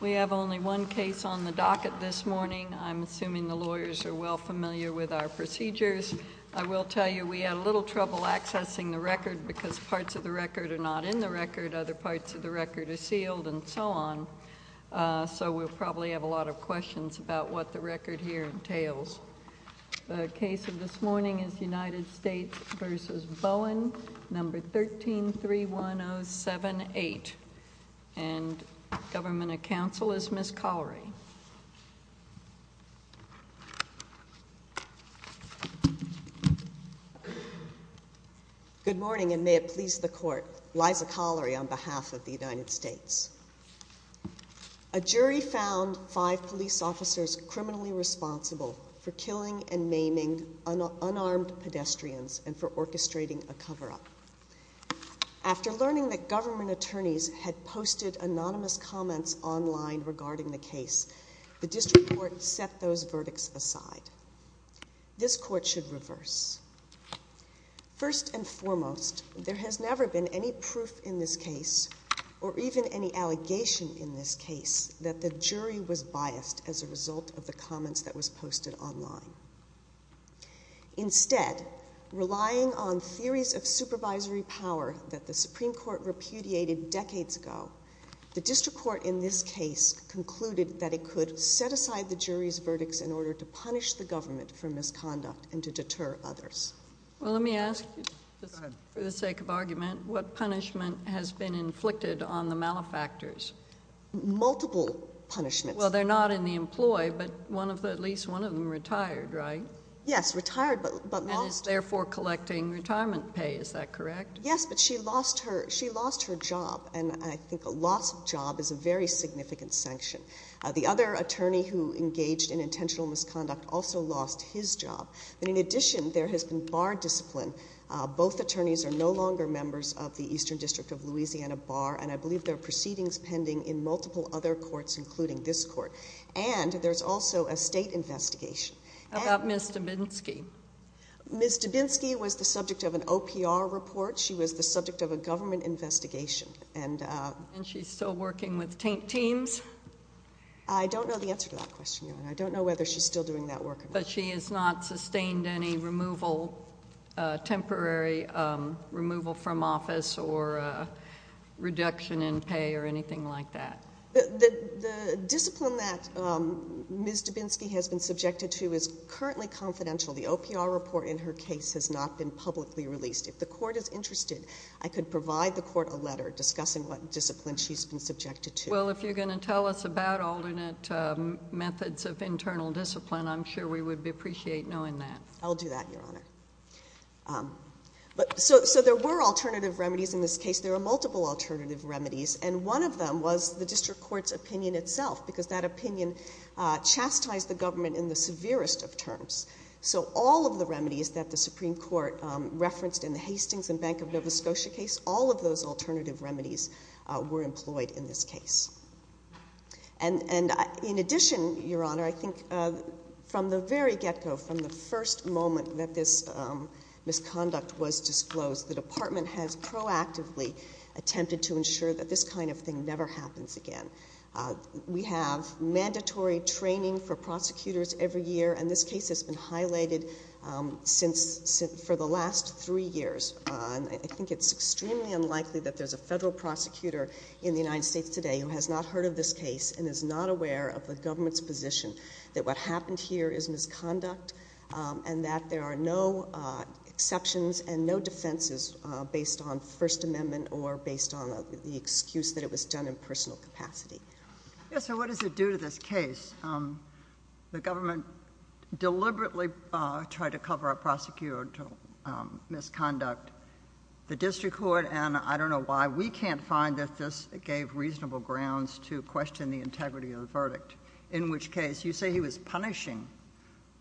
We have only one case on the docket this morning. I'm assuming the lawyers are well familiar with our procedures. I will tell you we had a little trouble accessing the record because parts of the record are not in the record. Other parts of the record are sealed and so on. So we'll probably have a lot of questions about what the record here entails. The case of this morning is United States v. Bowen, number 1331078. Government of Counsel is Ms. Collery. Good morning and may it please the court. Liza Collery on behalf of the United States. A jury found five police officers criminally responsible for killing and for orchestrating a cover-up. After learning that government attorneys had posted anonymous comments online regarding the case, the district court set those verdicts aside. This court should reverse. First and foremost, there has never been any proof in this case or even any allegation in this case that the jury was biased as a result of the comments that was posted online. Instead, relying on theories of supervisory power that the Supreme Court repudiated decades ago, the district court in this case concluded that it could set aside the jury's verdicts in order to punish the government for misconduct and to deter others. Well, let me ask you for the sake of argument, what punishment has been inflicted on the malefactors? Multiple punishments. Well, they're not in the employ, but at least one of them retired, right? Yes, retired but is therefore collecting retirement pay. Is that correct? Yes, but she lost her. She lost her job and I think a loss of job is a very significant sanction. The other attorney who engaged in intentional misconduct also lost his job. But in addition, there has been bar discipline. Both attorneys are no longer members of the Eastern District of Louisiana Bar, and I believe their proceedings pending in multiple other courts, including this court. And there's also a state investigation about Mr Binsky. Mr Binsky was the subject of an O. P. R. Report. She was the subject of a government investigation, and she's still working with tank teams. I don't know the answer to that question. I don't know whether she's still doing that work, but she is not sustained any removal, temporary removal from office or reduction in pay or anything like that. The discipline that Mr Binsky has been subjected to is currently confidential. The O. P. R. Report in her case has not been publicly released. If the court is interested, I could provide the court a letter discussing what discipline she's been subjected to. Well, if you're going to tell us about alternate methods of internal discipline, I'm sure we would appreciate knowing that. I'll do that, Your Honor. But so there were alternative remedies in this case. There are multiple alternative remedies, and one of them was the district court's opinion itself, because that opinion chastised the government in the severest of terms. So all of the remedies that the Supreme Court referenced in the Hastings and Bank of Nova Scotia case, all of those alternative remedies were employed in this case. And in addition, Your Honor, I think from the very get-go, from the first moment that this misconduct was disclosed, the Department has proactively attempted to ensure that this kind of thing never happens again. We have mandatory training for prosecutors every year, and this case has been highlighted for the last three years. I think it's extremely unlikely that there's a federal prosecutor in the United States today who has not heard of this case and is not aware of the government's position that what happened here is misconduct and that there are no exceptions and no defenses based on First Amendment or based on the excuse that it was done in personal capacity. Yes, so what does it do to this case? The government deliberately tried to cover up prosecutorial misconduct. The district court, and I don't know why, we can't find that this gave reasonable grounds to question the integrity of the verdict, in which case, you say he was punishing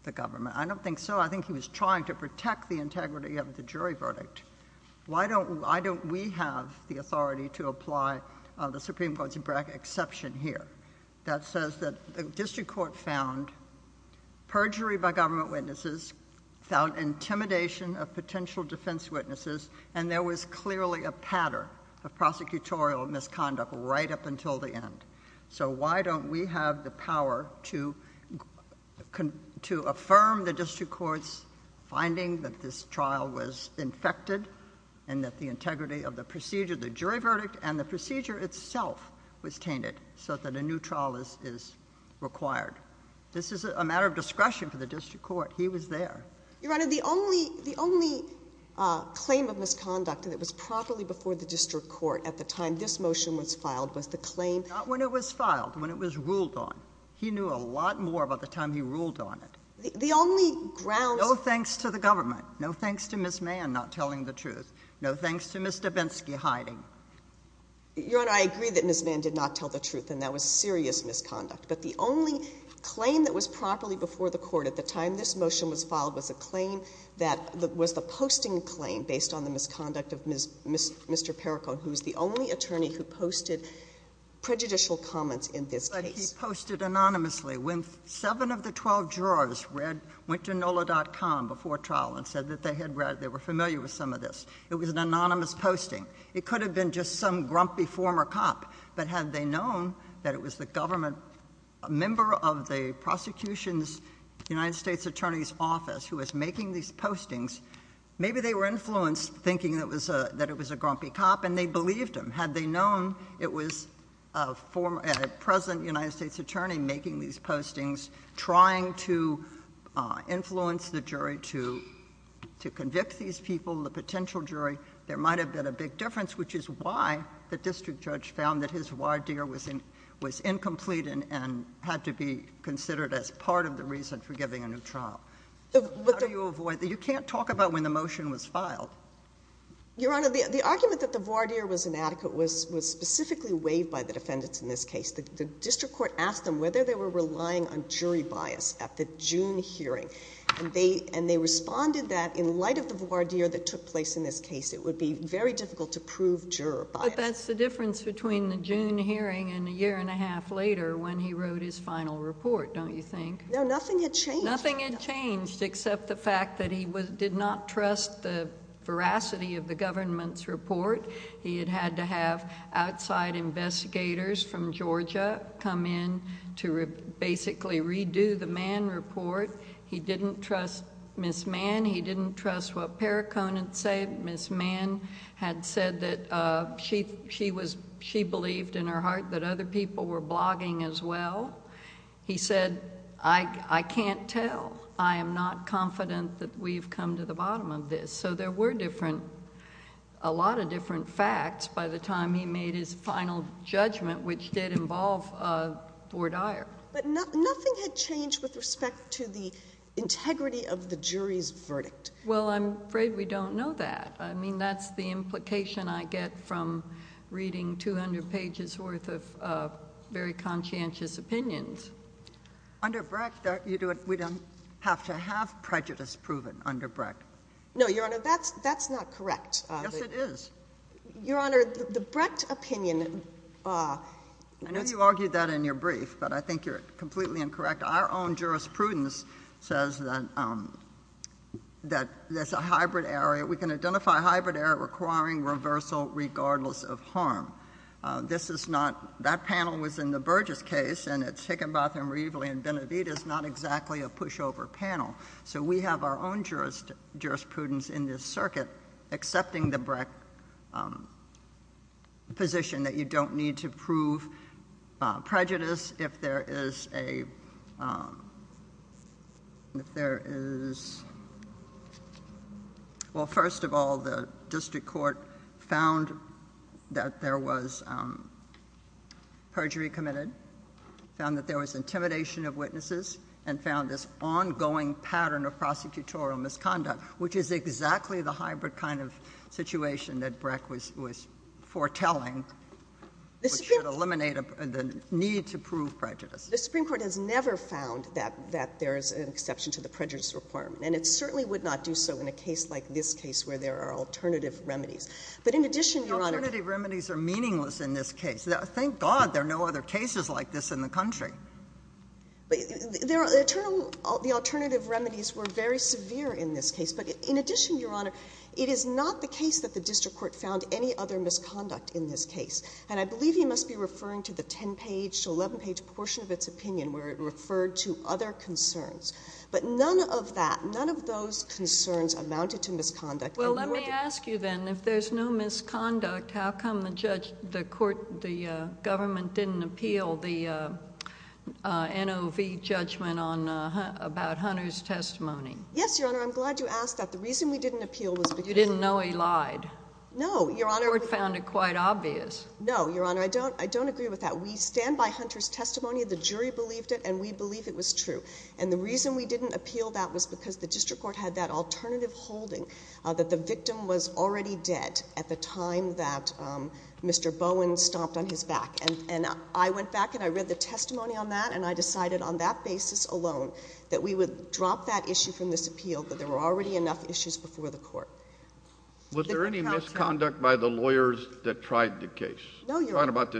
the government. I don't think so. I think he was trying to protect the integrity of the jury verdict. Why don't we have the authority to apply the Supreme Court's exception here that says that the district court found perjury by government witnesses, found intimidation of potential defense witnesses, and there was clearly a pattern of prosecutorial misconduct right up until the end? So why don't we have the power to affirm the district court's finding that this trial was infected and that the integrity of the procedure, the jury verdict, and the procedure itself was tainted so that a new trial is required? This is a matter of discretion for the district court. He was there. Your Honor, the only claim of misconduct that was properly before the district court at the time this motion was filed was the claim... Not when it was filed, when it was ruled on. He knew a lot more about the time he ruled on it. The only grounds... No thanks to the government. No thanks to Ms. Mann not telling the truth. No thanks to Mr. Bensky hiding. Your Honor, I agree that Ms. Mann did not tell the truth and that was serious misconduct, but the only claim that was properly before the court at the time this motion was filed was a claim that was the posting claim based on the misconduct of Mr. Perricone, who's the only attorney who posted prejudicial comments in this case. But he posted anonymously. When seven of the 12 jurors went to NOLA.com before trial and said that they were familiar with some of this, it was an anonymous posting. It could have been just some grumpy former cop, but had they known that it was the government member of the prosecution's United States Attorney's office who was making these postings, maybe they were influenced thinking that it was a grumpy cop and they believed him. Had they known it was a former, present United States attorney making these postings, trying to influence the jury to convict these people, the potential jury, there might have been a big was incomplete and had to be considered as part of the reason for giving a new trial. How do you avoid that? You can't talk about when the motion was filed. Your Honor, the argument that the voir dire was inadequate was specifically waived by the defendants in this case. The district court asked them whether they were relying on jury bias at the June hearing, and they responded that in light of the voir dire that took place in this case, it would be very difficult to prove juror bias. But that's the difference between the June hearing and a year and a half later when he wrote his final report, don't you think? No, nothing had changed. Nothing had changed except the fact that he did not trust the veracity of the government's report. He had had to have outside investigators from Georgia come in to basically redo the Mann report. He didn't trust Miss Mann. He didn't trust what Perricone had said. Miss Mann had said that she believed in her heart that other people were blogging as well. He said, I can't tell. I am not confident that we've come to the bottom of this. So there were different, a lot of different facts by the time he made his final judgment, which did involve voir dire. But nothing had changed with respect to the integrity of the jury's report. Well, I'm afraid we don't know that. I mean, that's the implication I get from reading 200 pages worth of very conscientious opinions. Under Brecht, we don't have to have prejudice proven under Brecht. No, Your Honor, that's not correct. Yes, it is. Your Honor, the Brecht opinion... I know you argued that in your brief, but I think you're completely incorrect. Our own jurisprudence is a hybrid area. We can identify a hybrid area requiring reversal regardless of harm. This is not, that panel was in the Burgess case, and it's Higginbotham, Reveley, and Benavidez, not exactly a pushover panel. So we have our own jurisprudence in this circuit accepting the Brecht position that you have. Well, first of all, the district court found that there was perjury committed, found that there was intimidation of witnesses, and found this ongoing pattern of prosecutorial misconduct, which is exactly the hybrid kind of situation that Brecht was foretelling, which should eliminate the need to prove prejudice. The Supreme Court has never found that there is an exception to the prejudice requirement, and it certainly would not do so in a case like this case where there are alternative remedies. But in addition, Your Honor... The alternative remedies are meaningless in this case. Thank God there are no other cases like this in the country. The alternative remedies were very severe in this case. But in addition, Your Honor, it is not the case that the district court found any other misconduct in this case. And I believe he must be referring to the 10-page to 11-page portion of its opinion where it referred to other concerns. But none of that, none of those concerns amounted to misconduct. Well, let me ask you then, if there's no misconduct, how come the government didn't appeal the NOV judgment about Hunter's testimony? Yes, Your Honor, I'm glad you asked that. The reason we didn't appeal was because... You didn't know he lied. No, Your Honor... The court found it quite obvious. No, Your Honor, I don't agree with that. We stand by Hunter's testimony. The jury believed it and we believe it was true. And the reason we didn't appeal that was because the district court had that alternative holding that the victim was already dead at the time that Mr. Bowen stomped on his back. And I went back and I read the testimony on that and I decided on that basis alone that we would drop that issue from this appeal, that there were already enough issues before the court. Was there any misconduct by the lawyers that tried the case? No, Your Honor. I'm talking about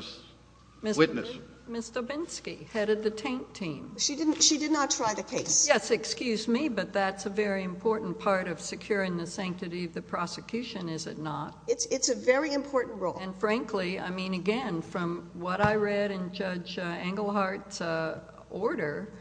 this witness. Ms. Dobinsky, head of the taint team. She did not try the case. Yes, excuse me, but that's a very important part of securing the sanctity of the prosecution, is it not? It's a very important role. And frankly, I mean, again, from what I read in Judge Engelhardt's order,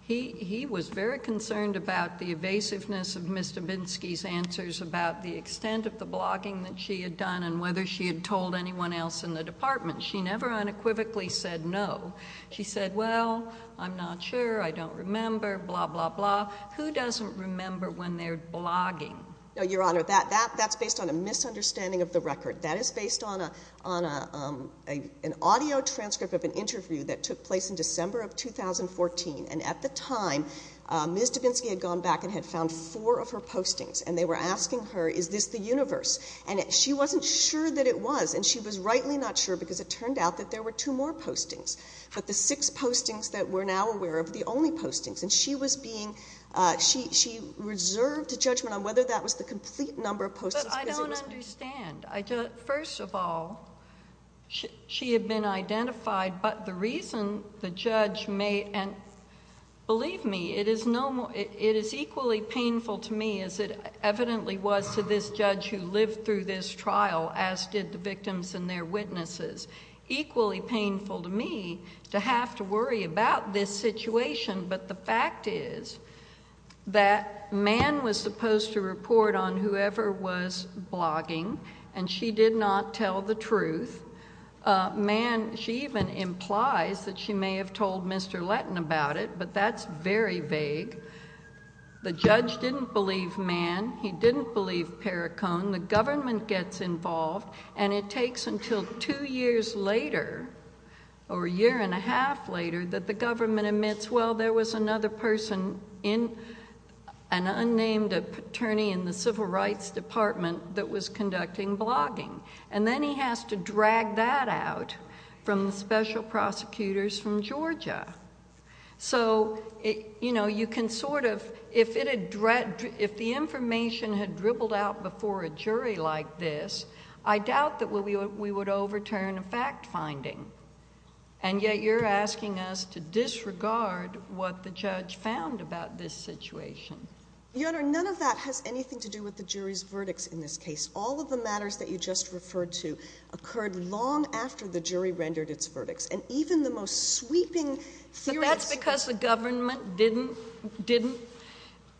he was very concerned about the evasiveness of Ms. Dobinsky's answers about the extent of the blogging that she had done and whether she had told anyone else in the department. She never unequivocally said no. She said, well, I'm not sure, I don't remember, blah, blah, blah, who doesn't remember when they're blogging? No, Your Honor, that's based on a misunderstanding of the record. That is based on an audio transcript of an interview that took place in December of 2014. And at the time, Ms. Dobinsky had gone back and had found four of her postings and they were asking her, is this the universe? And she wasn't sure that it was, and she was rightly not sure because it turned out that there were two more postings, but the six postings that we're now aware of were the only postings. And she was being, she reserved a judgment on whether that was the complete number of postings. But I don't understand. First of all, she had been identified, but the reason the judge may, and believe me, it is equally painful to me as it evidently was to this judge who lived through this trial, as did the victims and their witnesses, equally painful to me to have to worry about this situation. But the fact is that Mann was supposed to report on whoever was blogging and she did not tell the truth. Mann, she even implies that she may have told Mr. Letton about it, but that's very vague. The judge didn't believe Mann. He didn't believe Perricone. The government gets involved and it takes until two years later or a year and a half later that the government admits, well, there was another person in, an unnamed attorney in the civil rights department that was conducting blogging. And then he has to drag that out from the special prosecutors from Georgia. So you know, you can sort of, if it had, if the information had dribbled out before a jury like this, I doubt that we would overturn a fact finding. And yet you're asking us to disregard what the judge found about this situation. Your Honor, none of that has anything to do with the jury's verdicts in this case. All of the matters that you just referred to occurred long after the jury rendered its verdicts. And even the most sweeping theories- That's because the government didn't, didn't,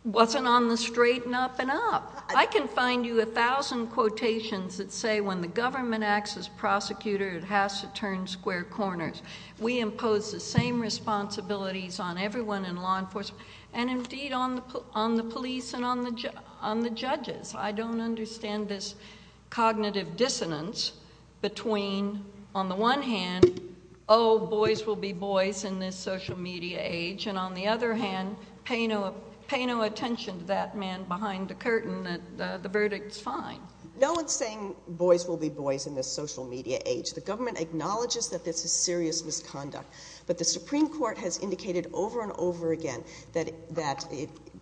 wasn't on the straight and up and up. I can find you a thousand quotations that say when the government acts as prosecutor it has to turn square corners. We impose the same responsibilities on everyone in law enforcement and indeed on the police and on the judges. I don't understand this cognitive dissonance between, on the one hand, oh, boys will be boys in this social media age, and on the other hand, pay no attention to that man behind the curtain, the verdict's fine. No one's saying boys will be boys in this social media age. The government acknowledges that this is serious misconduct. But the Supreme Court has indicated over and over again that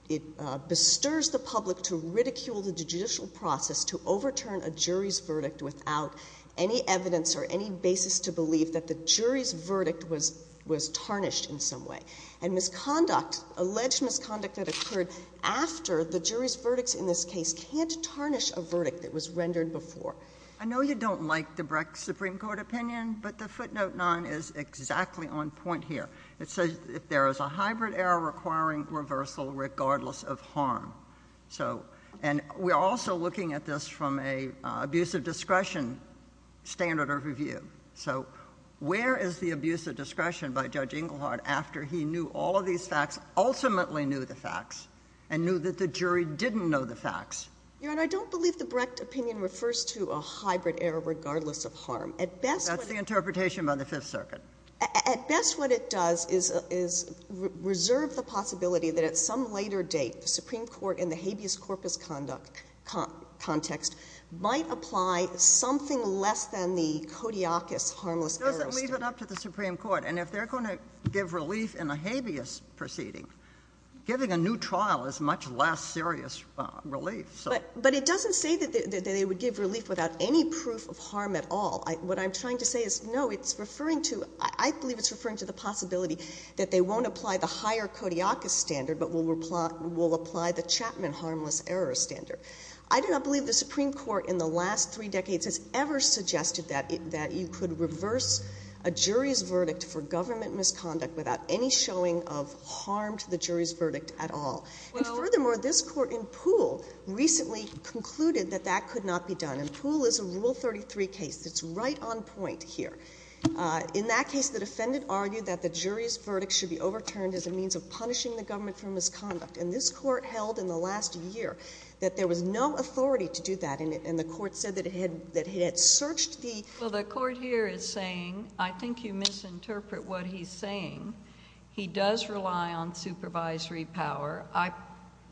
it bestirs the public to ridicule the judicial process to overturn a jury's verdict without any evidence or any basis to believe that the jury's verdict was, was tarnished in some way. And misconduct, alleged misconduct that occurred after the jury's verdicts in this case can't tarnish a verdict that was rendered before. I know you don't like the Brex Supreme Court opinion, but the footnote 9 is exactly on point here. It says if there is a hybrid error requiring reversal regardless of harm. So, and we're also looking at this from a abuse of discretion standard of review. So where is the abuse of discretion by Judge Englehardt after he knew all of these facts, ultimately knew the facts, and knew that the jury didn't know the facts? Your Honor, I don't believe the Brecht opinion refers to a hybrid error regardless of harm. At best— That's the interpretation by the Fifth Circuit. At best what it does is, is reserve the possibility that at some later date the Supreme Court in the habeas corpus conduct, context, might apply something less than the codiocus harmless error standard. It doesn't leave it up to the Supreme Court. And if they're going to give relief in a habeas proceeding, giving a new trial is much less serious relief. But it doesn't say that they would give relief without any proof of harm at all. What I'm trying to say is, no, it's referring to, I believe it's referring to the possibility that they won't apply the higher codiocus standard, but will apply the Chapman harmless error standard. I do not believe the Supreme Court in the last three decades has ever suggested that you could reverse a jury's verdict for government misconduct without any showing of harm to the jury's verdict at all. And furthermore, this Court in Poole recently concluded that that could not be done. And Poole is a Rule 33 case that's right on point here. In that case, the defendant argued that the jury's verdict should be overturned as a means of punishing the government for misconduct. And this Court held in the last year that there was no authority to do that. And the Court said that it had searched the — Well, the Court here is saying, I think you misinterpret what he's saying. He does rely on supervisory power. I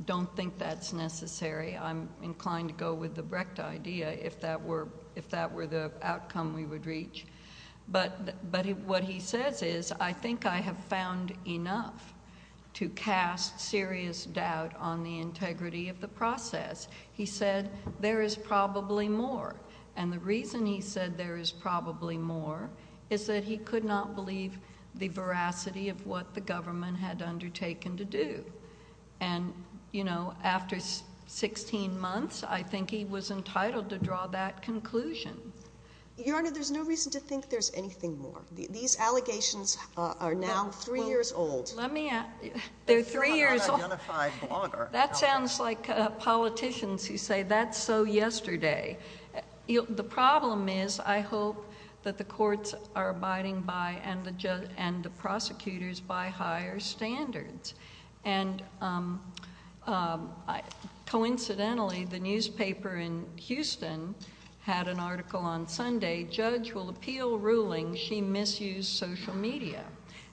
don't think that's necessary. I'm inclined to go with the Brecht idea if that were the outcome we would reach. But what he says is, I think I have found enough to cast serious doubt on the integrity of the process. He said, there is probably more. And the reason he said there is probably more is that he could not believe the veracity of what the government had undertaken to do. And, you know, after 16 months, I think he was entitled to draw that conclusion. Your Honor, there's no reason to think there's anything more. These allegations are now three years old. Let me — They're three years old. That sounds like politicians who say, that's so yesterday. The problem is, I hope that the courts are abiding by and the prosecutors by higher standards. And coincidentally, the newspaper in Houston had an article on Sunday, Judge will appeal ruling she misused social media.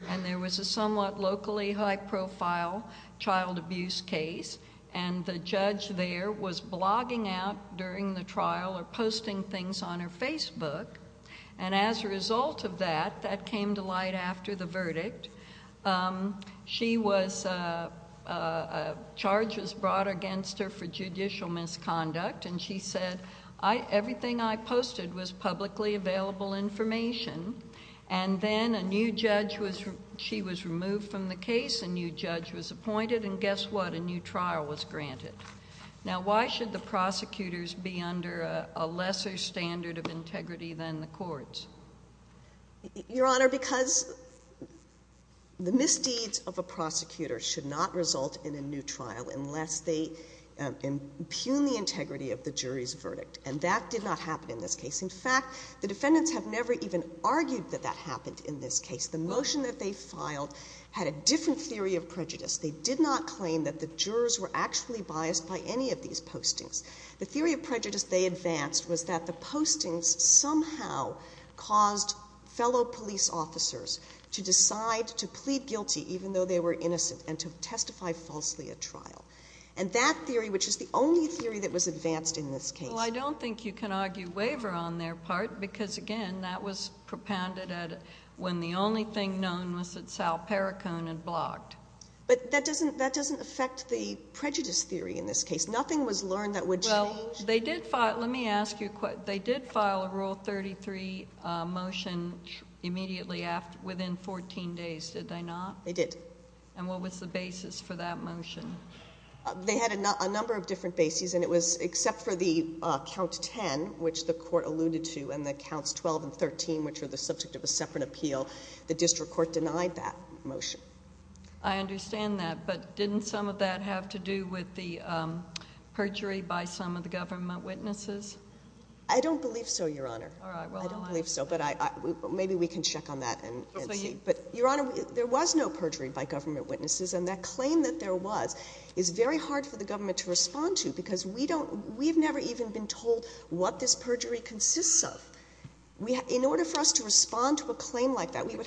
And there was a somewhat locally high-profile child abuse case, and the judge there was blogging out during the trial or posting things on her Facebook. And as a result of that, that came to light after the verdict. She was — a charge was brought against her for judicial misconduct. And she said, everything I posted was publicly available information. And then a new judge was — she was removed from the case, a new judge was appointed, and guess what? A new trial was granted. Now, why should the prosecutors be under a lesser standard of integrity than the courts? Your Honor, because the misdeeds of a prosecutor should not result in a new trial unless they impugn the integrity of the jury's verdict. And that did not happen in this case. In fact, the defendants have never even argued that that happened in this case. The motion that they filed had a different theory of prejudice. They did not claim that the jurors were actually biased by any of these postings. The theory of prejudice they advanced was that the postings somehow caused fellow police officers to decide to plead guilty, even though they were innocent, and to testify falsely at trial. And that theory, which is the only theory that was advanced in this case — Well, I don't think you can argue waiver on their part because, again, that was propounded at — when the only thing known was that Sal Perricone had blogged. But that doesn't — that doesn't affect the prejudice theory in this case. Nothing was learned that would change — Well, they did file — let me ask you — they did file a Rule 33 motion immediately after — within 14 days, did they not? They did. And what was the basis for that motion? They had a number of different bases, and it was — except for the Count 10, which the court alluded to, and the Counts 12 and 13, which are the subject of a separate appeal, the district court denied that motion. I understand that, but didn't some of that have to do with the perjury by some of the government witnesses? I don't believe so, Your Honor. All right, well — I don't believe so, but I — maybe we can check on that and see. But, Your Honor, there was no perjury by government witnesses, and that claim that there was is very hard for the government to respond to because we don't — we've never even been told what this perjury consists of. The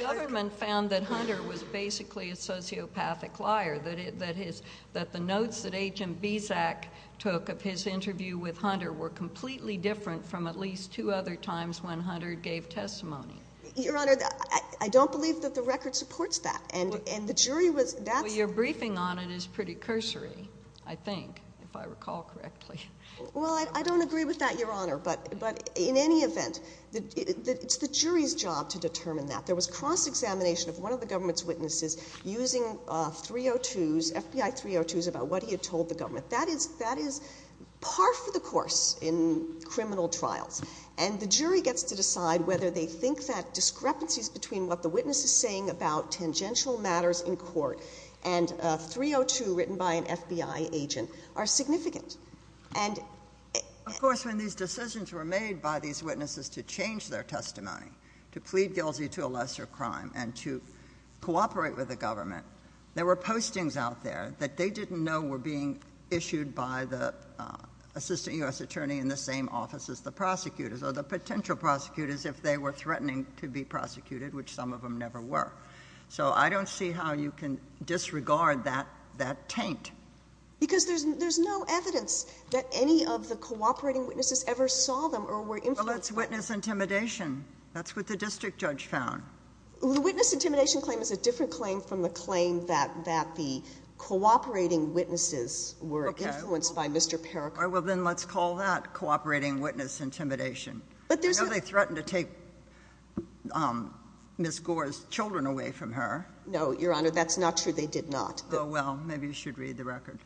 government found that Hunter was basically a sociopathic liar, that his — that the notes that Agent Bizak took of his interview with Hunter were completely different from at least two other times when Hunter gave testimony. Your Honor, I don't believe that the record supports that, and the jury was — Well, your briefing on it is pretty cursory, I think, if I recall correctly. Well, I don't agree with that, Your Honor, but in any event, it's the jury's job to determine that. There was cross-examination of one of the government's witnesses using 302s, FBI 302s about what he had told the government. That is — that is par for the course in criminal trials. And the jury gets to decide whether they think that discrepancies between what the witness is saying about tangential matters in court and a 302 written by an FBI agent are significant. And — Of course, when these decisions were made by these witnesses to change their testimony, to plead guilty to a lesser crime and to cooperate with the government, there were postings out there that they didn't know were being issued by the assistant U.S. attorney in the same office as the prosecutors or the potential prosecutors if they were threatening to be prosecuted, which some of them never were. So I don't see how you can disregard that — that taint. Because there's — there's no evidence that any of the cooperating witnesses ever saw them or were influenced — Well, that's witness intimidation. That's what the district judge found. The witness intimidation claim is a different claim from the claim that — that the cooperating witnesses were influenced by Mr. Parakur. Well, then let's call that cooperating witness intimidation. But there's — I know they threatened to take Ms. Gore's children away from her. No, Your Honor, that's not true. They did not. Oh, well. Maybe you should read the record.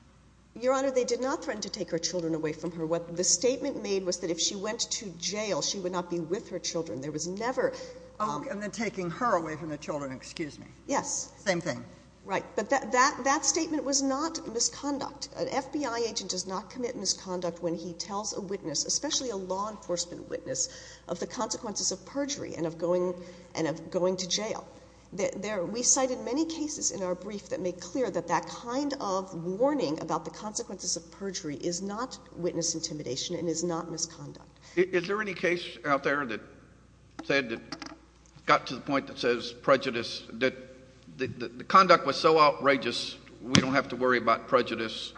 Your Honor, they did not threaten to take her children away from her. What the statement made was that if she went to jail, she would not be with her children. There was never — Oh, and then taking her away from the children. Excuse me. Yes. Same thing. Right. But that — that statement was not misconduct. An FBI agent does not commit misconduct when he tells a witness, especially a law enforcement witness, of the consequences of perjury and of going — and of going to jail. There — we cited many cases in our brief that make clear that that kind of warning about the consequences of perjury is not witness intimidation and is not misconduct. Is there any case out there that said — that got to the point that says prejudice — that the conduct was so outrageous, we don't have to worry about prejudice?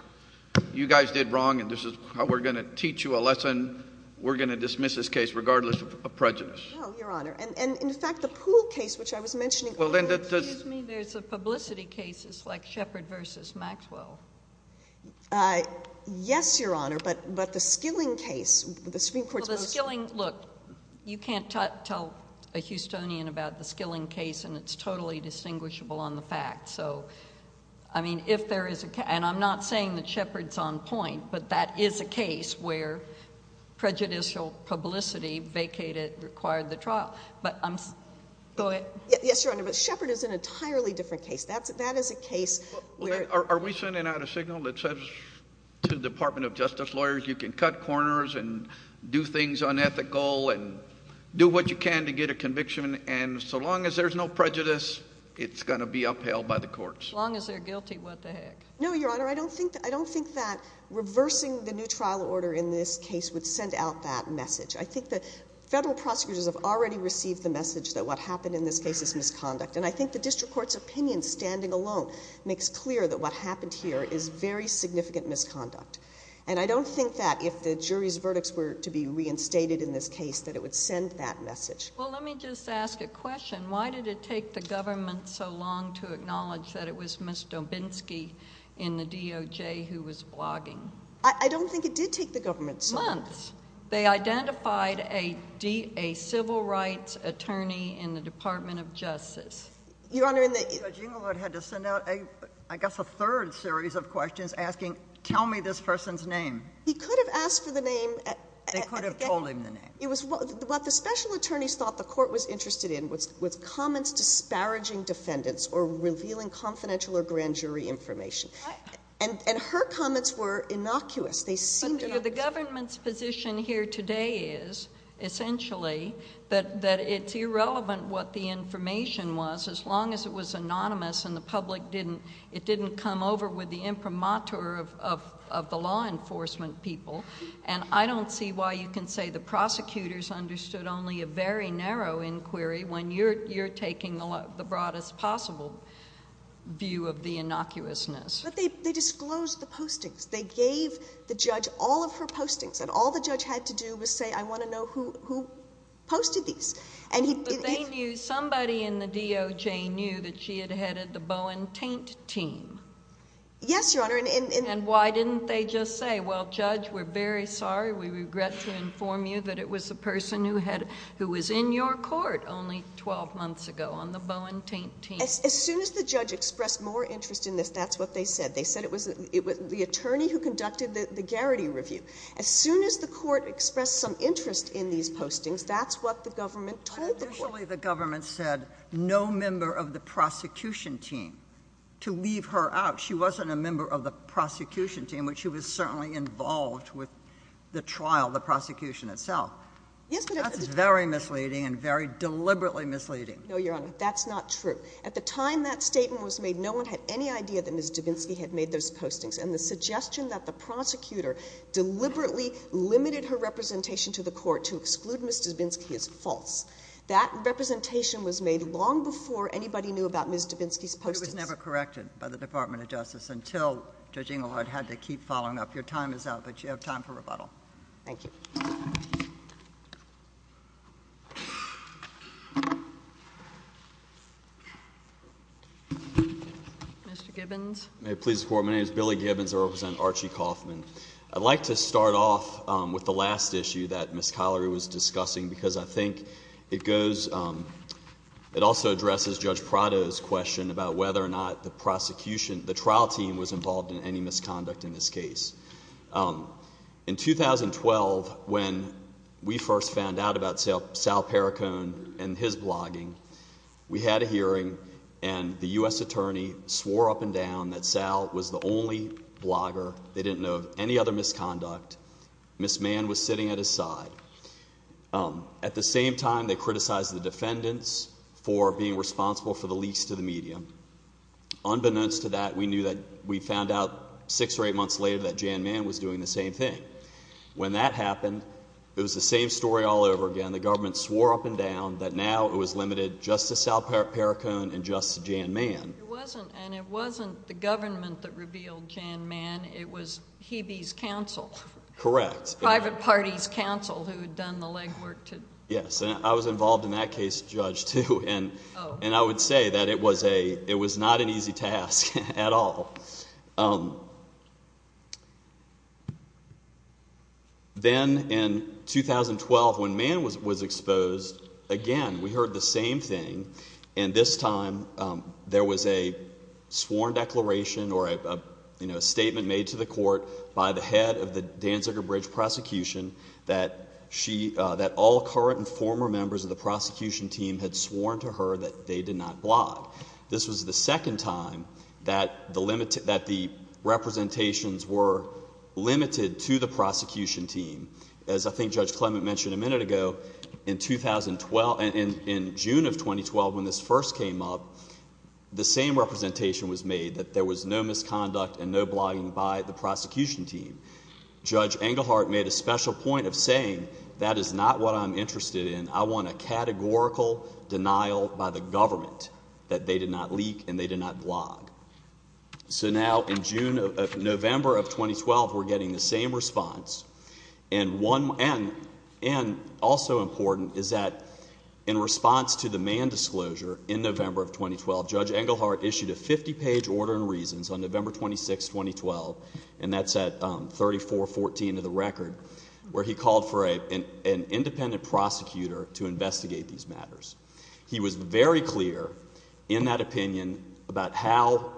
You guys did wrong, and this is how we're going to teach you a lesson. We're going to dismiss this case regardless of prejudice. No, Your Honor. And in fact, the Poole case, which I was mentioning earlier — Excuse me. There's a publicity case. It's like Shepard v. Maxwell. Yes, Your Honor, but the Skilling case, the Supreme Court's most — Well, the Skilling — look, you can't tell a Houstonian about the Skilling case, and it's totally distinguishable on the facts. So, I mean, if there is a — and I'm not saying that Shepard's on point, but that is a case where prejudicial publicity vacated — required the trial. But I'm — go ahead. Yes, Your Honor, but Shepard is an entirely different case. That is a case where — Are we sending out a signal that says to the Department of Justice lawyers, you can cut corners and do things unethical and do what you can to get a conviction, and so long as there's no prejudice, it's going to be upheld by the courts? As long as they're guilty, what the heck? No, Your Honor, I don't think that reversing the new trial order in this case would send out that message. I think the federal prosecutors have already received the message that what happened in this case is misconduct. And I think the district court's opinion, standing alone, makes clear that what happened here is very significant misconduct. And I don't think that if the jury's verdicts were to be reinstated in this case, that it would send that message. Well, let me just ask a question. Why did it take the government so long to acknowledge that it was Ms. Dobinsky in the DOJ who was blogging? I don't think it did take the government so — Months. They identified a civil rights attorney in the Department of Justice. Your Honor, in the — Judge Inglewood had to send out, I guess, a third series of questions asking, tell me this person's name. He could have asked for the name — They could have told him the name. It was — what the special attorneys thought the court was interested in was comments disparaging defendants or revealing confidential or grand jury information. And her comments were innocuous. They seemed innocuous. But the government's position here today is, essentially, that it's irrelevant what the information was as long as it was anonymous and the public didn't — it didn't come over with the imprimatur of the law enforcement people. And I don't see why you can say the prosecutors understood only a very narrow inquiry when you're taking the broadest possible view of the innocuousness. But they disclosed the postings. They gave the judge all of her postings. And all the judge had to do was say, I want to know who posted these. And he — But they knew — somebody in the DOJ knew that she had headed the Bowen-Taint team. Yes, Your Honor, and — And why didn't they just say, well, Judge, we're very sorry, we regret to inform you that it was a person who was in your court only 12 months ago on the Bowen-Taint team? As soon as the judge expressed more interest in this, that's what they said. They said it was the attorney who conducted the Garrity review. As soon as the court expressed some interest in these postings, that's what the government told the court. Usually the government said no member of the prosecution team to leave her out. She wasn't a member of the prosecution team, but she was certainly involved with the trial, the prosecution itself. Yes, but — That's very misleading and very deliberately misleading. No, Your Honor, that's not true. At the time that statement was made, no one had any idea that Ms. Dubinsky had made those postings, and the suggestion that the prosecutor deliberately limited her representation to the court to exclude Ms. Dubinsky is false. That representation was made long before anybody knew about Ms. Dubinsky's postings. But it was never corrected by the Department of Justice until Judge Inglewood had to keep following up. Your time is up, but you have time for rebuttal. Thank you. Mr. Gibbons? May it please the Court, my name is Billy Gibbons. I represent Archie Kaufman. I'd like to start off with the last issue that Ms. Collery was discussing, because I think it goes — it also addresses Judge Prado's question about whether or not the prosecution, the trial team was involved in any misconduct in this case. In 2012, when we first found out about Sal Perricone and his blogging, we had a hearing and the U.S. attorney swore up and down that Sal was the only blogger. They didn't know of any other misconduct. Ms. Mann was sitting at his side. At the same time, they criticized the defendants for being responsible for the leaks to the media. Unbeknownst to that, we knew that — we found out six or eight months later that Jan Mann was doing the same thing. When that happened, it was the same story all over again. The government swore up and down that now it was limited just to Sal Perricone and just to Jan Mann. It wasn't — and it wasn't the government that revealed Jan Mann. It was Hebe's counsel. Correct. Private party's counsel who had done the legwork to — Yes, and I was involved in that case, Judge, too. And I would say that it was a — it was not an easy task at all. Then, in 2012, when Mann was exposed, again, we heard the same thing, and this time there was a sworn declaration or a statement made to the court by the head of the Danziger Bridge prosecution that she — that all current and former members of the prosecution team had sworn to her that they did not blog. This was the second time that the limited — that the representations were limited to the prosecution team. As I think Judge Clement mentioned a minute ago, in 2012 — in June of 2012, when this first came up, the same representation was made, that there was no misconduct and no blogging by the prosecution team. Judge Engelhardt made a special point of saying, that is not what I'm interested in. I want a categorical denial by the government that they did not leak and they did not blog. So now, in June — November of 2012, we're getting the same response. And one — and also important is that in response to the Mann disclosure in November of 2012, Judge Engelhardt issued a 50-page order in reasons on November 26, 2012, and to investigate these matters. He was very clear in that opinion about how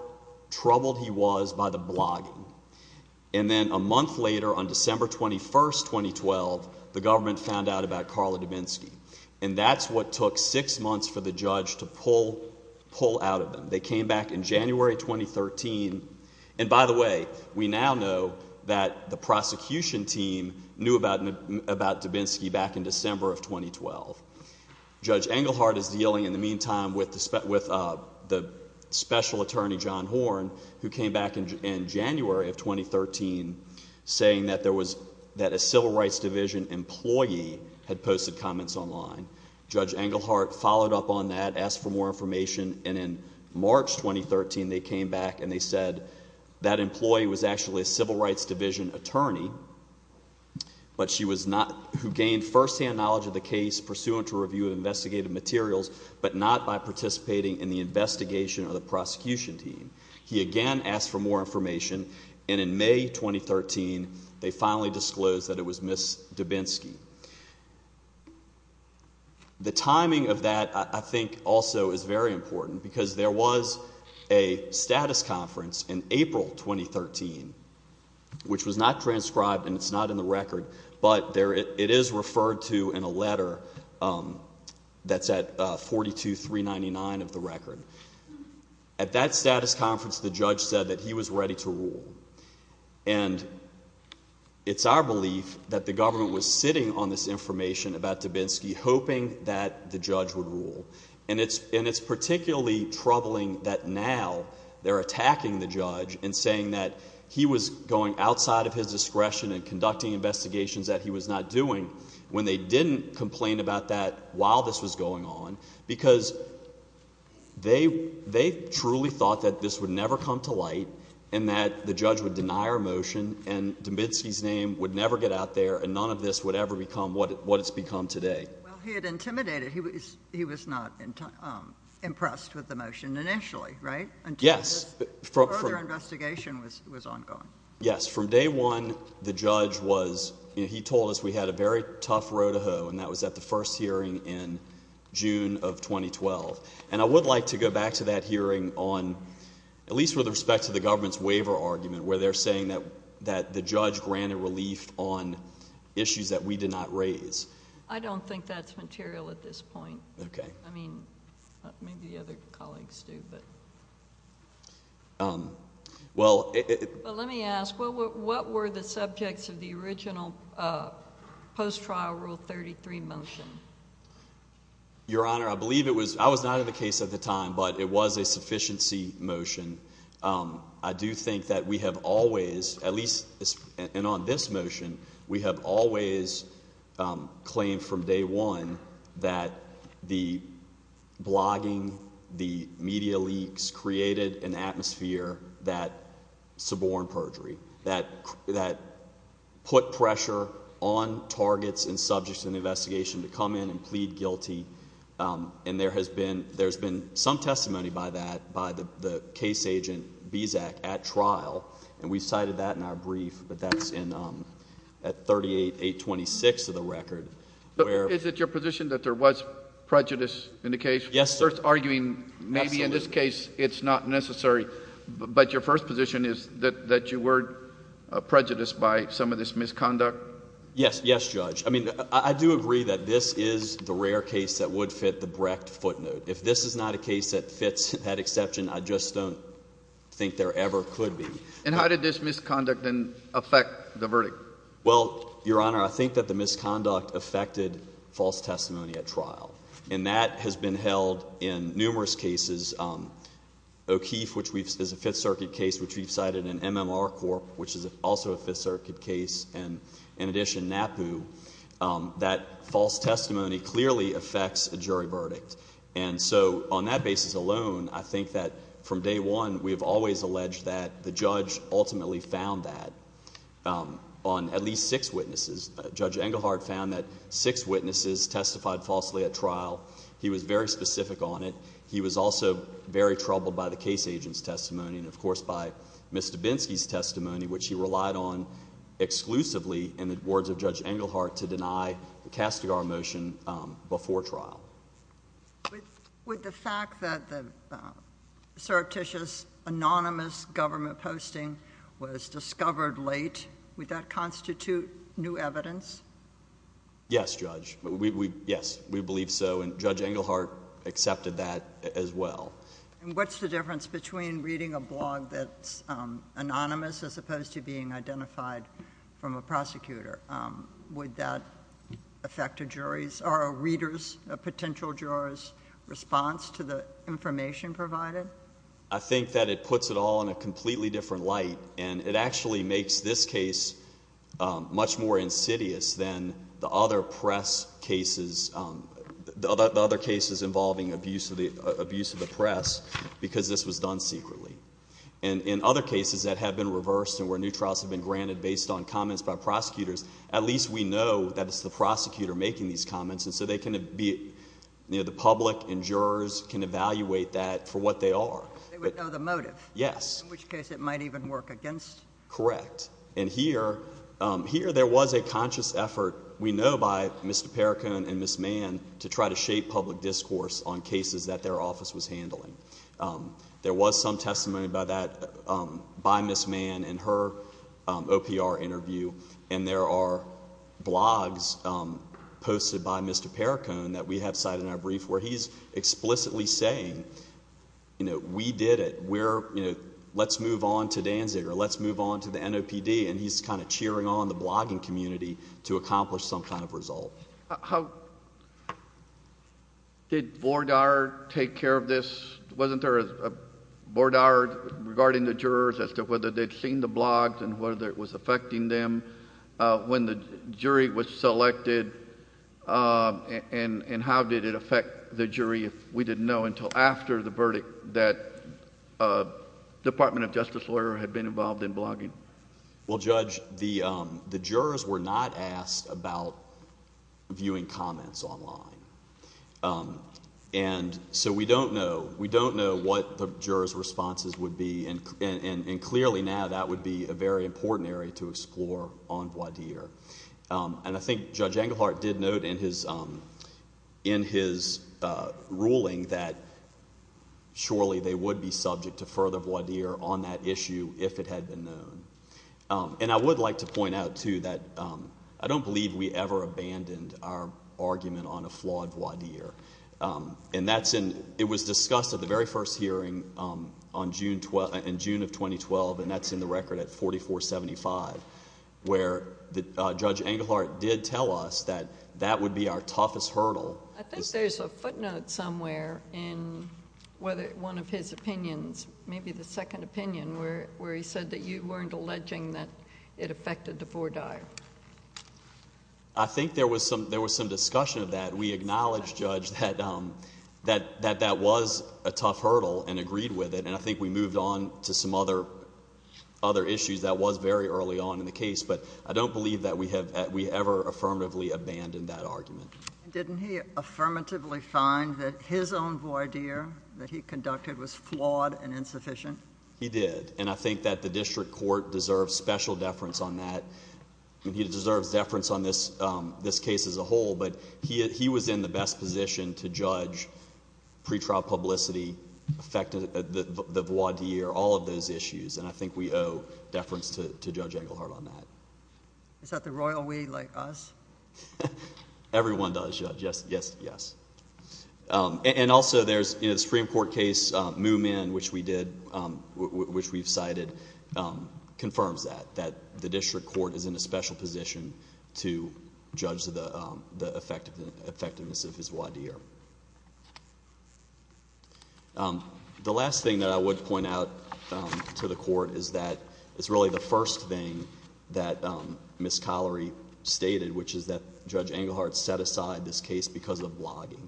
troubled he was by the blogging. And then a month later, on December 21, 2012, the government found out about Carla Dubinsky. And that's what took six months for the judge to pull — pull out of them. They came back in January 2013. And by the way, we now know that the prosecution team knew about — about Dubinsky back in December of 2012. Judge Engelhardt is dealing, in the meantime, with the special attorney, John Horn, who came back in January of 2013 saying that there was — that a Civil Rights Division employee had posted comments online. Judge Engelhardt followed up on that, asked for more information. And in March 2013, they came back and they said that employee was actually a Civil Rights Division attorney, but she was not — who gained firsthand knowledge of the case pursuant to a review of investigative materials, but not by participating in the investigation of the prosecution team. He again asked for more information. And in May 2013, they finally disclosed that it was Ms. Dubinsky. The timing of that, I think, also is very important because there was a status conference in April 2013, which was not transcribed and it's not in the record, but there — it is referred to in a letter that's at 42399 of the record. At that status conference, the judge said that he was ready to rule. And it's our belief that the government was sitting on this information about Dubinsky hoping that the judge would rule. And it's particularly troubling that now they're attacking the judge and saying that he was going outside of his discretion and conducting investigations that he was not doing when they didn't complain about that while this was going on because they truly thought that this would never come to light and that the judge would deny our motion and Dubinsky's name would never get out there and none of this would ever become what it's become today. Well, he had intimidated — he was not impressed with the motion initially, right? Yes. Until further investigation was ongoing. Yes. From day one, the judge was — he told us we had a very tough road to hoe and that was at the first hearing in June of 2012. And I would like to go back to that hearing on — at least with respect to the government's waiver argument where they're saying that the judge granted relief on issues that we did not raise. I don't think that's material at this point. Okay. I mean, maybe the other colleagues do, but — Well — But let me ask, what were the subjects of the original post-trial Rule 33 motion? Your Honor, I believe it was — I was not in the case at the time, but it was a sufficiency motion. I do think that we have always, at least — and on this motion, we have always claimed from day one that the blogging, the media leaks created an atmosphere that suborned perjury, that put pressure on targets and subjects in the investigation to come in and plead guilty. And there has been — there's been some testimony by that, by the case agent Bezac at trial, and we cited that in our brief, but that's in — at 38.826 of the record, where — Is it your position that there was prejudice in the case? Yes, sir. You're arguing maybe in this case it's not necessary, but your first position is that you were prejudiced by some of this misconduct? Yes. Yes, Judge. I mean, I do agree that this is the rare case that would fit the Brecht footnote. If this is not a case that fits that exception, I just don't think there ever could be. And how did this misconduct then affect the verdict? Well, Your Honor, I think that the misconduct affected false testimony at trial, and that has been held in numerous cases. O'Keefe, which is a Fifth Circuit case, which we've cited, and MMR Corp., which is also a Fifth Circuit case, and in addition, NAPU, that false testimony clearly affects a jury verdict. And so on that basis alone, I think that from day one, we have always alleged that the judge ultimately found that on at least six witnesses. Judge Engelhardt found that six witnesses testified falsely at trial. He was very specific on it. He was also very troubled by the case agent's testimony and, of course, by Mr. Binsky's testimony, which he relied on exclusively in the words of Judge Engelhardt to deny the Castigar motion before trial. With the fact that the surreptitious, anonymous government posting was discovered late, would that constitute new evidence? Yes, Judge. Yes, we believe so, and Judge Engelhardt accepted that as well. And what's the difference between reading a blog that's anonymous as opposed to being identified from a prosecutor? Would that affect a jury's or a reader's, a potential juror's, response to the information provided? I think that it puts it all in a completely different light, and it actually makes this case much more insidious than the other press cases, the other cases involving abuse of the press, because this was done secretly. And in other cases that have been reversed and where new trials have been granted based on comments by prosecutors, at least we know that it's the prosecutor making these comments, and so they can be, you know, the public and jurors can evaluate that for what they are. They would know the motive? Yes. In which case it might even work against? Correct. And here, there was a conscious effort, we know by Mr. Perricone and Ms. Mann, to try to shape public discourse on cases that their office was handling. There was some testimony about that by Ms. Mann in her OPR interview, and there are blogs posted by Mr. Perricone that we have cited in our brief where he's explicitly saying, you know, we did it, we're, you know, let's move on to Danziger, let's move on to the NOPD, and he's kind of cheering on the blogging community to accomplish some kind of result. How did Bordard take care of this? Wasn't there a Bordard regarding the jurors as to whether they'd seen the blogs and whether it was affecting them when the jury was selected, and how did it affect the jury if we didn't know until after the verdict that Department of Justice lawyer had been involved in blogging? Well, Judge, the jurors were not asked about viewing comments online, and so we don't know, we don't know what the jurors' responses would be, and clearly now that would be a very important area to explore on Bordard. And I think Judge Englehart did note in his ruling that surely they would be subject to further voir dire on that issue if it had been known. And I would like to point out, too, that I don't believe we ever abandoned our argument on a flawed voir dire. And that's in, it was discussed at the very first hearing in June of 2012, and that's in the record at 4475, where Judge Englehart did tell us that that would be our toughest hurdle. I think there's a footnote somewhere in one of his opinions, maybe the second opinion, where he said that you weren't alleging that it affected the voir dire. I think there was some discussion of that. We acknowledged, Judge, that that was a tough hurdle and agreed with it, and I think we moved on to some other issues that was very early on in the case, but I don't believe that we ever affirmatively abandoned that argument. Didn't he affirmatively find that his own voir dire that he conducted was flawed and insufficient? He did, and I think that the district court deserves special deference on that. He deserves deference on this case as a whole, but he was in the best position to judge pretrial publicity, the voir dire, all of those issues, and I think we owe deference to Judge Englehart on that. Is that the royal we like us? Everyone does, Judge. Yes, yes, yes. Also, there's the Supreme Court case, Moomin, which we did, which we've cited, confirms that, that the district court is in a special position to judge the effectiveness of his voir dire. The last thing that I would point out to the court is that it's really the first thing that Ms. Collery stated, which is that Judge Englehart set aside this case because of blogging.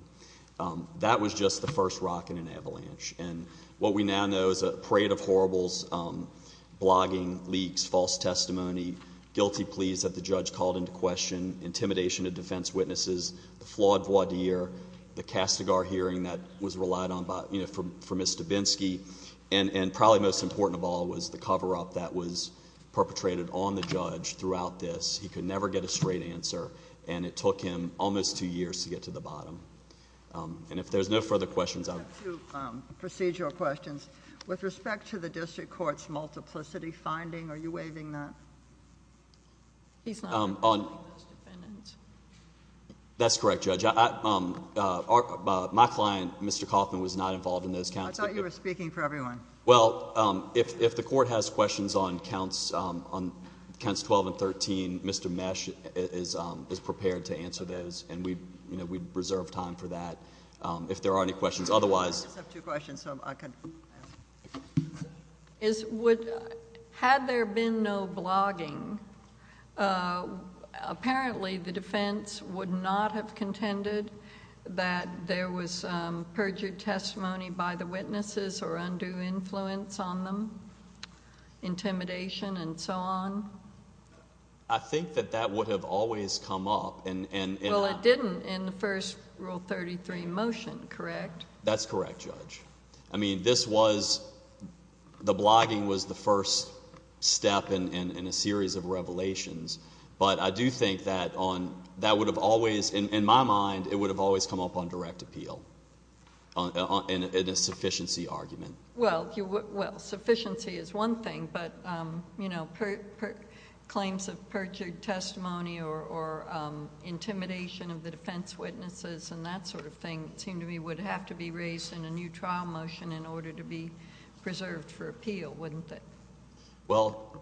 That was just the first rock in an avalanche, and what we now know is a parade of horribles, blogging, leaks, false testimony, guilty pleas that the judge called into question, intimidation of defense witnesses, the flawed voir dire, the Castigar hearing that was relied on for Ms. Dubinsky, and probably most important of all was the cover-up that was perpetrated on the judge throughout this. He could never get a straight answer, and it took him almost two years to get to the bottom. And if there's no further questions, I'll... I have two procedural questions. With respect to the district court's multiplicity finding, are you waiving that? He's not involved in those defendants. That's correct, Judge. My client, Mr. Kaufman, was not involved in those counts. I thought you were speaking for everyone. Well, if the court has questions on counts 12 and 13, Mr. Mesh is prepared to answer those, and we'd reserve time for that if there are any questions. Otherwise... I just have two questions, so I could... Had there been no blogging, apparently the defense would not have contended that there was perjured testimony by the witnesses or undue influence on them, intimidation and so on? I think that that would have always come up, and... Well, it didn't in the first Rule 33 motion, correct? That's correct, Judge. I mean, this was... The blogging was the first step in a series of revelations, but I do think that on... That would have always... In my mind, it would have always come up on direct appeal in a sufficiency argument. Well, sufficiency is one thing, but claims of perjured testimony or intimidation of the defense witnesses and that sort of thing seemed to me would have to be raised in a new trial motion in order to be preserved for appeal, wouldn't it? Well,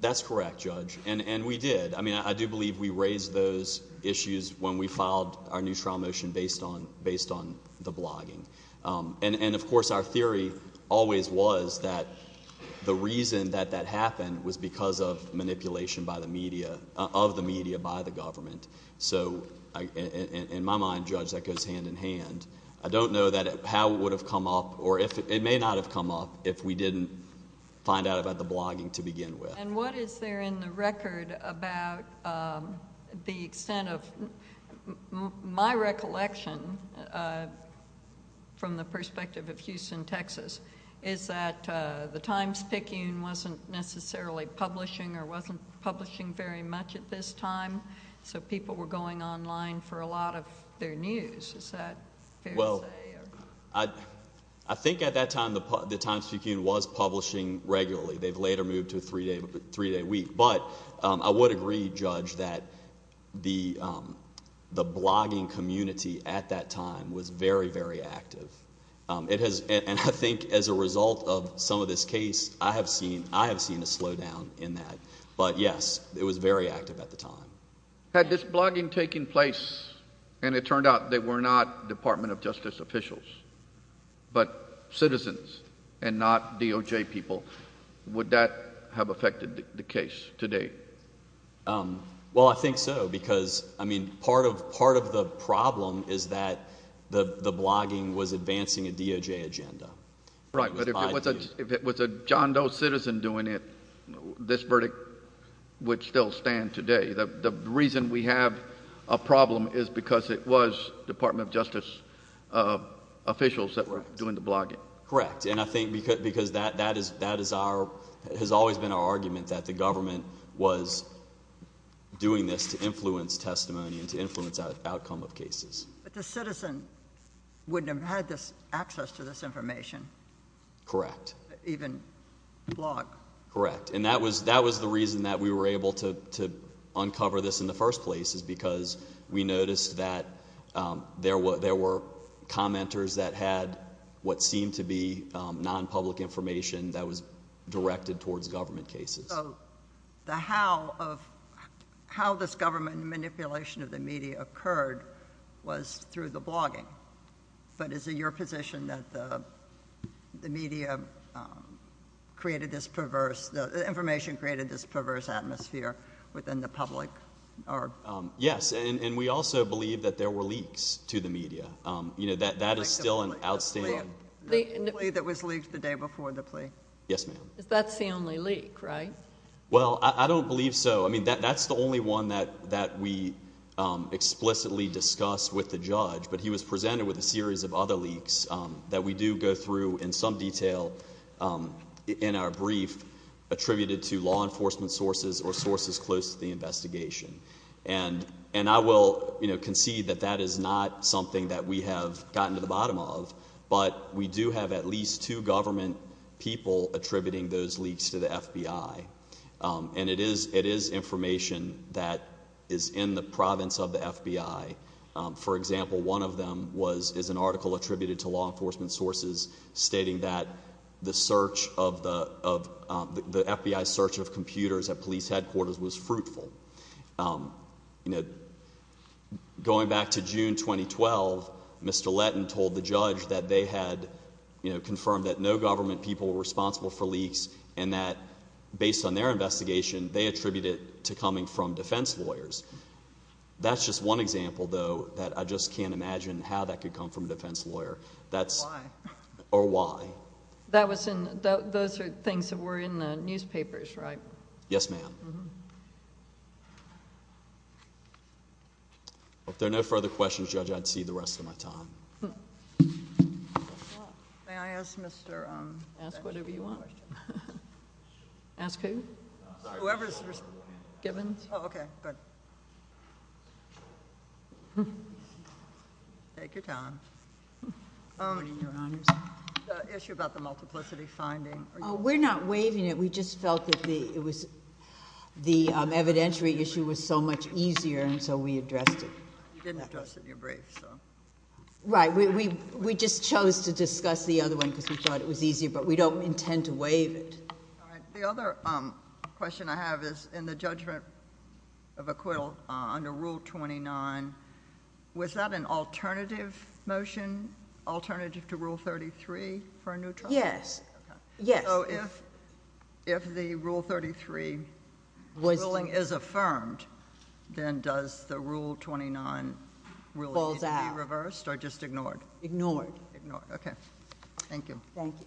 that's correct, Judge, and we did. I mean, I do believe we raised those issues when we filed our case against the blogging. And, of course, our theory always was that the reason that that happened was because of manipulation of the media by the government. So, in my mind, Judge, that goes hand in hand. I don't know how it would have come up, or it may not have come up, if we didn't find out about the blogging to begin with. And what is there in the record about the extent of... My recollection, from the perspective of Houston, Texas, is that the Times-Picayune wasn't necessarily publishing or wasn't publishing very much at this time, so people were going online for a lot of their news. Is that fair to say? Well, I think at that time, the Times-Picayune was publishing regularly. They've later moved to a three-day week. But I would agree, Judge, that the blogging community at that time was very, very active. And I think as a result of some of this case, I have seen a slowdown in that. But, yes, it was very active at the time. Had this blogging taken place and it turned out they were not Department of Justice officials but citizens and not DOJ people, would that have affected the case to date? Well, I think so because, I mean, part of the problem is that the blogging was advancing a DOJ agenda. Right. But if it was a John Doe citizen doing it, this verdict would still stand today. The reason we have a problem is because it was Department of Justice officials that were doing the blogging. Correct. And I think because that has always been our argument, that the government was doing this to influence testimony and to influence outcome of cases. But the citizen wouldn't have had access to this information. Correct. Even blog. Correct. And that was the reason that we were able to uncover this in the first place is because we noticed that there were commenters that had what seemed to be non-public information that was directed towards government cases. So the how of, how this government manipulation of the media occurred was through the blogging. But is it your position that the media created this perverse, the information created this perverse atmosphere within the public? Yes. And we also believe that there were leaks to the media. You know, that is still an outstanding. The plea that was leaked the day before the plea? Yes, ma'am. That's the only leak, right? Well, I don't believe so. I mean, that's the only one that we explicitly discussed with the judge. But he was presented with a series of other leaks that we do enforcement sources or sources close to the investigation. And I will, you know, concede that that is not something that we have gotten to the bottom of. But we do have at least two government people attributing those leaks to the FBI. And it is information that is in the province of the FBI. For example, one of them is an article attributed to law enforcement sources stating that the search of the FBI search of computers at police headquarters was fruitful. You know, going back to June 2012, Mr. Letton told the judge that they had, you know, confirmed that no government people were responsible for leaks and that based on their investigation, they attributed it to coming from defense lawyers. That's just one example, though, that I just can't imagine how that could come from a defense lawyer. Why? Or why? Those are things that were in the newspapers, right? Yes, ma'am. If there are no further questions, Judge, I'd cede the rest of my time. May I ask Mr. Letton a question? Ask whatever you want. Ask who? Whoever is responsible. Gibbons. Oh, okay. Good. Take your time. Good morning, Your Honors. The issue about the multiplicity finding. Oh, we're not waiving it. We just felt that the evidentiary issue was so much easier and so we addressed it. You didn't address it in your brief, so. Right. We just chose to discuss the other one because we thought it was easier, but we don't intend to waive it. All right. The other question I have is in the judgment of acquittal under Rule 29, was that an alternative motion, alternative to Rule 33 for a new trial? Yes. Yes. So if the Rule 33 ruling is affirmed, then does the Rule 29 ruling need to be reversed or just ignored? Ignored. Ignored. Okay. Thank you. Thank you.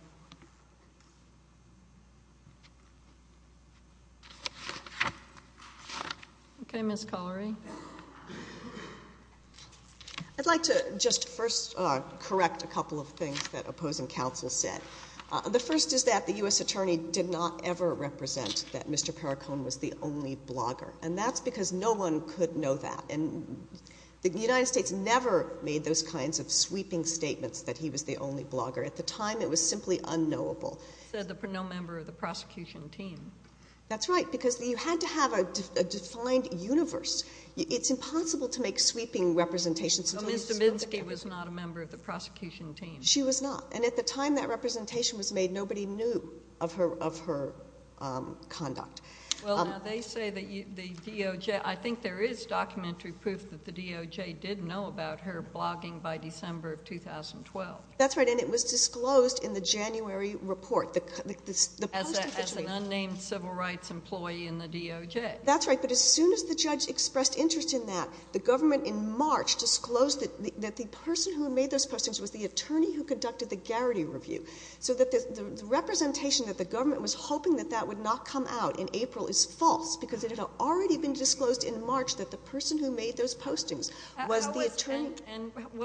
Okay, Ms. Collery. I'd like to just first correct a couple of things that opposing counsel said. The first is that the U.S. Attorney did not ever represent that Mr. Perricone was the only blogger. And that's because no one could know that. And the United States never made those kinds of sweeping statements that he was the only blogger. At the time, it was simply unknowable. Said that no member of the prosecution team. That's right. Because you had to have a defined universe. It's impossible to make sweeping representations. So Ms. Dominski was not a member of the prosecution team. She was not. And at the time that representation was made, nobody knew of her conduct. Well, now they say that the DOJ, I think there is documentary proof that the DOJ did know about her blogging by December of 2012. That's right. And it was disclosed in the January report. As an unnamed civil rights employee in the DOJ. That's right. But as soon as the judge expressed interest in that, the government in March disclosed that the person who made those postings was the attorney. And what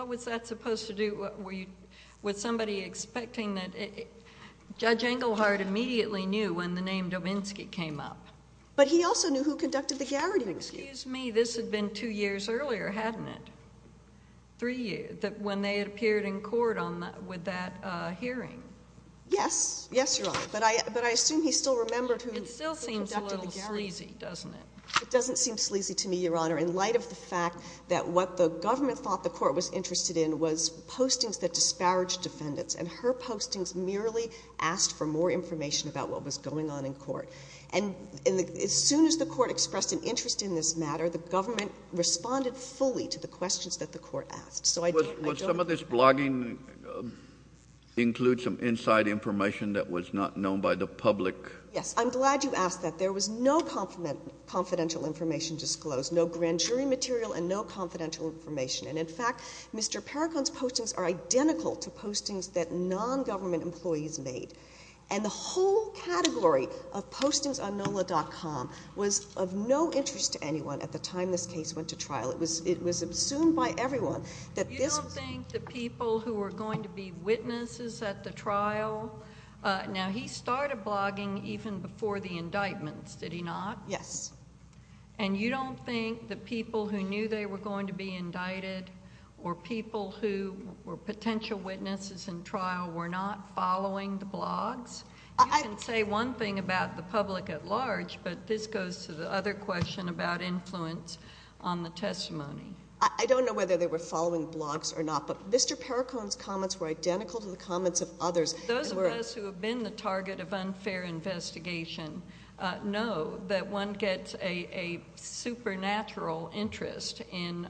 was that supposed to do? Was somebody expecting that? Judge Englehardt immediately knew when the name Dominski came up. But he also knew who conducted the Garrity review. Excuse me. This had been two years earlier, hadn't it? Because it had already been disclosed in March that the person who made those postings was the attorney. And what was that supposed to do? Yes. Yes, Your Honor. But I assume he still remembered who conducted the Garrity. It still seems a little sleazy, doesn't it? It doesn't seem sleazy to me, Your Honor, in light of the fact that what the government thought the court was interested in was postings that disparaged defendants. And her postings merely asked for more information about what was going on in court. And as soon as the court expressed an interest in this matter, the government responded fully to the questions that the court asked. Would some of this blogging include some inside information that was not known by the public? Yes. I'm glad you asked that. There was no confidential information disclosed. No grand jury material and no confidential information. And, in fact, Mr. Perricone's postings are identical to postings that non-government employees made. And the whole category of postings on NOLA.com was of no interest to anyone at the time this case went to trial. It was assumed by everyone that this was... You don't think the people who were going to be witnesses at the trial... Now, he started blogging even before the indictments, did he not? Yes. And you don't think the people who knew they were going to be indicted or people who were potential witnesses in trial were not following the blogs? You can say one thing about the public at large, but this goes to the other question about influence on the testimony. I don't know whether they were following blogs or not, but Mr. Perricone's comments were identical to the comments of others. Those of us who have been the target of unfair investigation know that one gets a supernatural interest in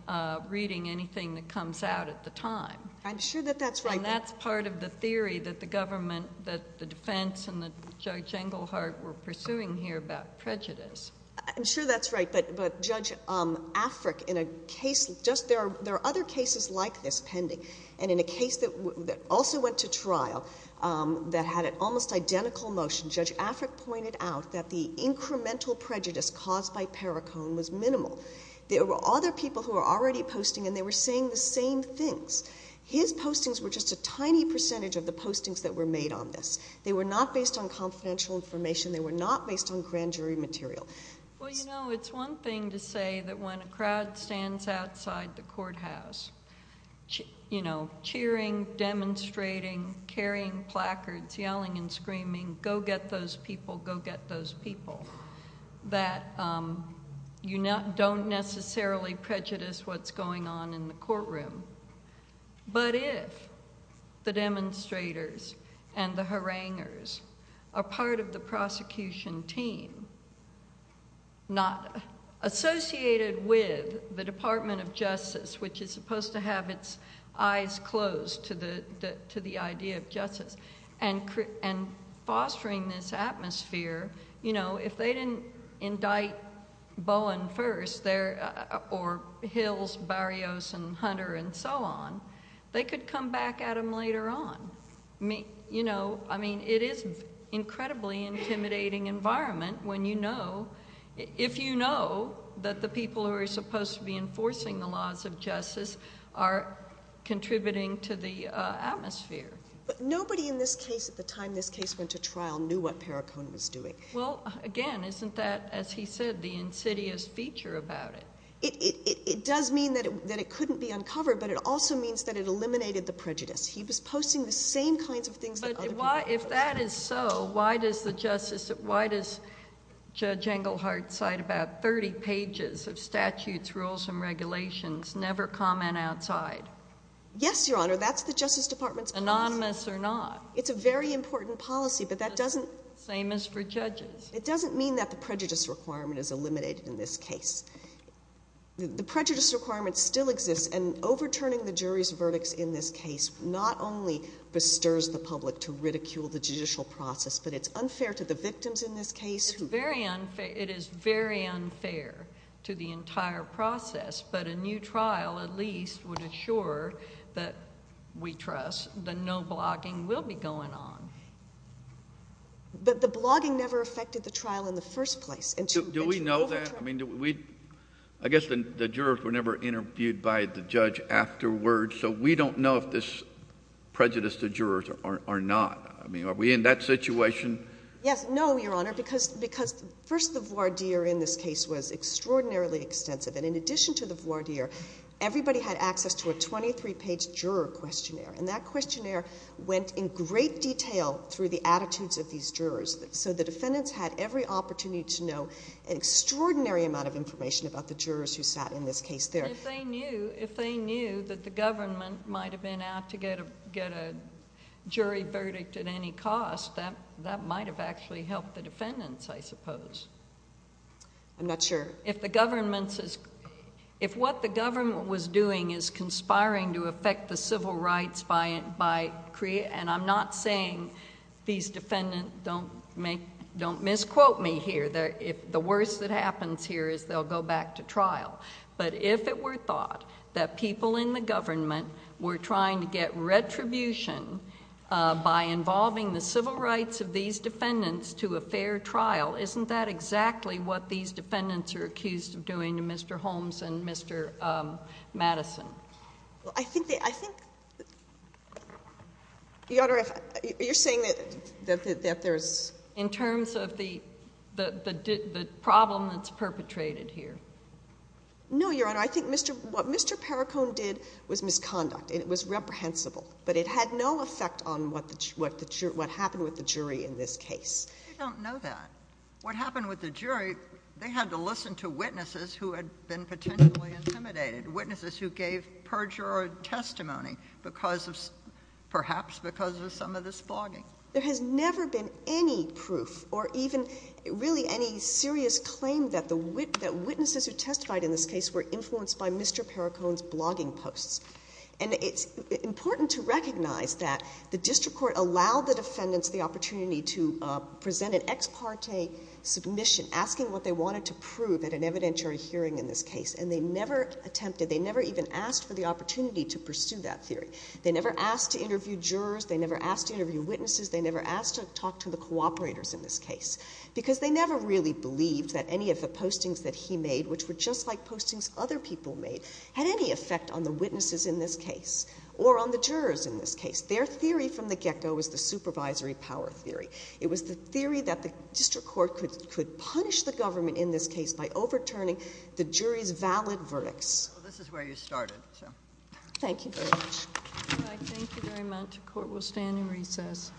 reading anything that comes out at the time. I'm sure that that's right. And that's part of the theory that the government, that the defense and that Judge Englehart were pursuing here about prejudice. I'm sure that's right. But Judge Afric, in a case just... There are other cases like this pending. And in a case that also went to trial that had an almost identical motion, Judge Afric pointed out that the incremental prejudice caused by Perricone was minimal. There were other people who were already posting and they were saying the same things. His postings were just a tiny percentage of the postings that were made on this. They were not based on confidential information. They were not based on grand jury material. Well, you know, it's one thing to say that when a crowd stands outside the courthouse, you know, cheering, demonstrating, carrying placards, yelling and screaming, go get those people, go get those people, that you don't necessarily prejudice what's going on in the courtroom. But if the demonstrators and the haranguers are part of the prosecution team, not associated with the Department of Justice, which is supposed to have its eyes closed to the idea of justice, and fostering this atmosphere, you know, if they didn't indict Bowen first or Hills, Barrios and Hunter and so on, they could come back at them later on. You know, I mean, it is an incredibly intimidating environment when you know, if you know that the people who are supposed to be enforcing the laws of justice are contributing to the atmosphere. But nobody in this case at the time this case went to trial knew what Perricone was doing. Well, again, isn't that, as he said, the insidious feature about it? It does mean that it couldn't be uncovered, but it also means that it eliminated the prejudice. He was posting the same kinds of things that other people were posting. But why, if that is so, why does the Justice, why does Judge Engelhardt cite about 30 pages of statutes, rules and regulations, never comment outside? Yes, Your Honor, that's the Justice Department's policy. Anonymous or not? It's a very important policy, but that doesn't... Same as for judges. It doesn't mean that the prejudice requirement is eliminated in this case. The prejudice requirement still exists, and overturning the jury's verdicts in this case not only bestirs the public to ridicule the judicial process, but it's unfair to the victims in this case. It's very unfair. It is very unfair to the entire process, but a new trial at least would assure that we trust that no blogging will be going on. But the blogging never affected the trial in the first place. Do we know that? I mean, I guess the jurors were never interviewed by the judge afterwards, so we don't know if this prejudice to jurors are not. I mean, are we in that situation? Yes. No, Your Honor, because first the voir dire in this case was extraordinarily extensive, and in addition to the voir dire, everybody had access to a 23-page juror questionnaire, and that questionnaire went in great detail through the attitudes of these jurors. So the defendants had every opportunity to know an extraordinary amount of information about the jurors who sat in this case there. But if they knew that the government might have been out to get a jury verdict at any cost, that might have actually helped the defendants, I suppose. I'm not sure. If what the government was doing is conspiring to affect the civil rights by creating, and I'm not saying these defendants don't misquote me here. The worst that happens here is they'll go back to trial. But if it were thought that people in the government were trying to get retribution by involving the civil rights of these defendants to a fair trial, isn't that exactly what these defendants are accused of doing to Mr. Holmes and Mr. Madison? Well, I think... Your Honor, you're saying that there's... In terms of the problem that's perpetrated here. No, Your Honor. I think what Mr. Perricone did was misconduct, and it was reprehensible. But it had no effect on what happened with the jury in this case. I don't know that. What happened with the jury, they had to listen to witnesses who had been potentially intimidated, witnesses who gave perjured testimony because of, perhaps because of some of this blogging. There has never been any proof, or even really any serious claim, that witnesses who testified in this case were influenced by Mr. Perricone's blogging posts. And it's important to recognize that the district court allowed the defendants the opportunity to present an ex parte submission, asking what they wanted to prove at an evidentiary hearing in this case. And they never attempted, they never even asked for the opportunity to pursue that theory. They never asked to interview jurors. They never asked to interview witnesses. They never asked to talk to the cooperators in this case. Because they never really believed that any of the postings that he made, which were just like postings other people made, had any effect on the witnesses in this case, or on the jurors in this case. Their theory from the get-go was the supervisory power theory. It was the theory that the district court could punish the government in this case by overturning the jury's valid verdicts. Well, this is where you started, so. Thank you very much. All right. Thank you very much. Court will stand in recess.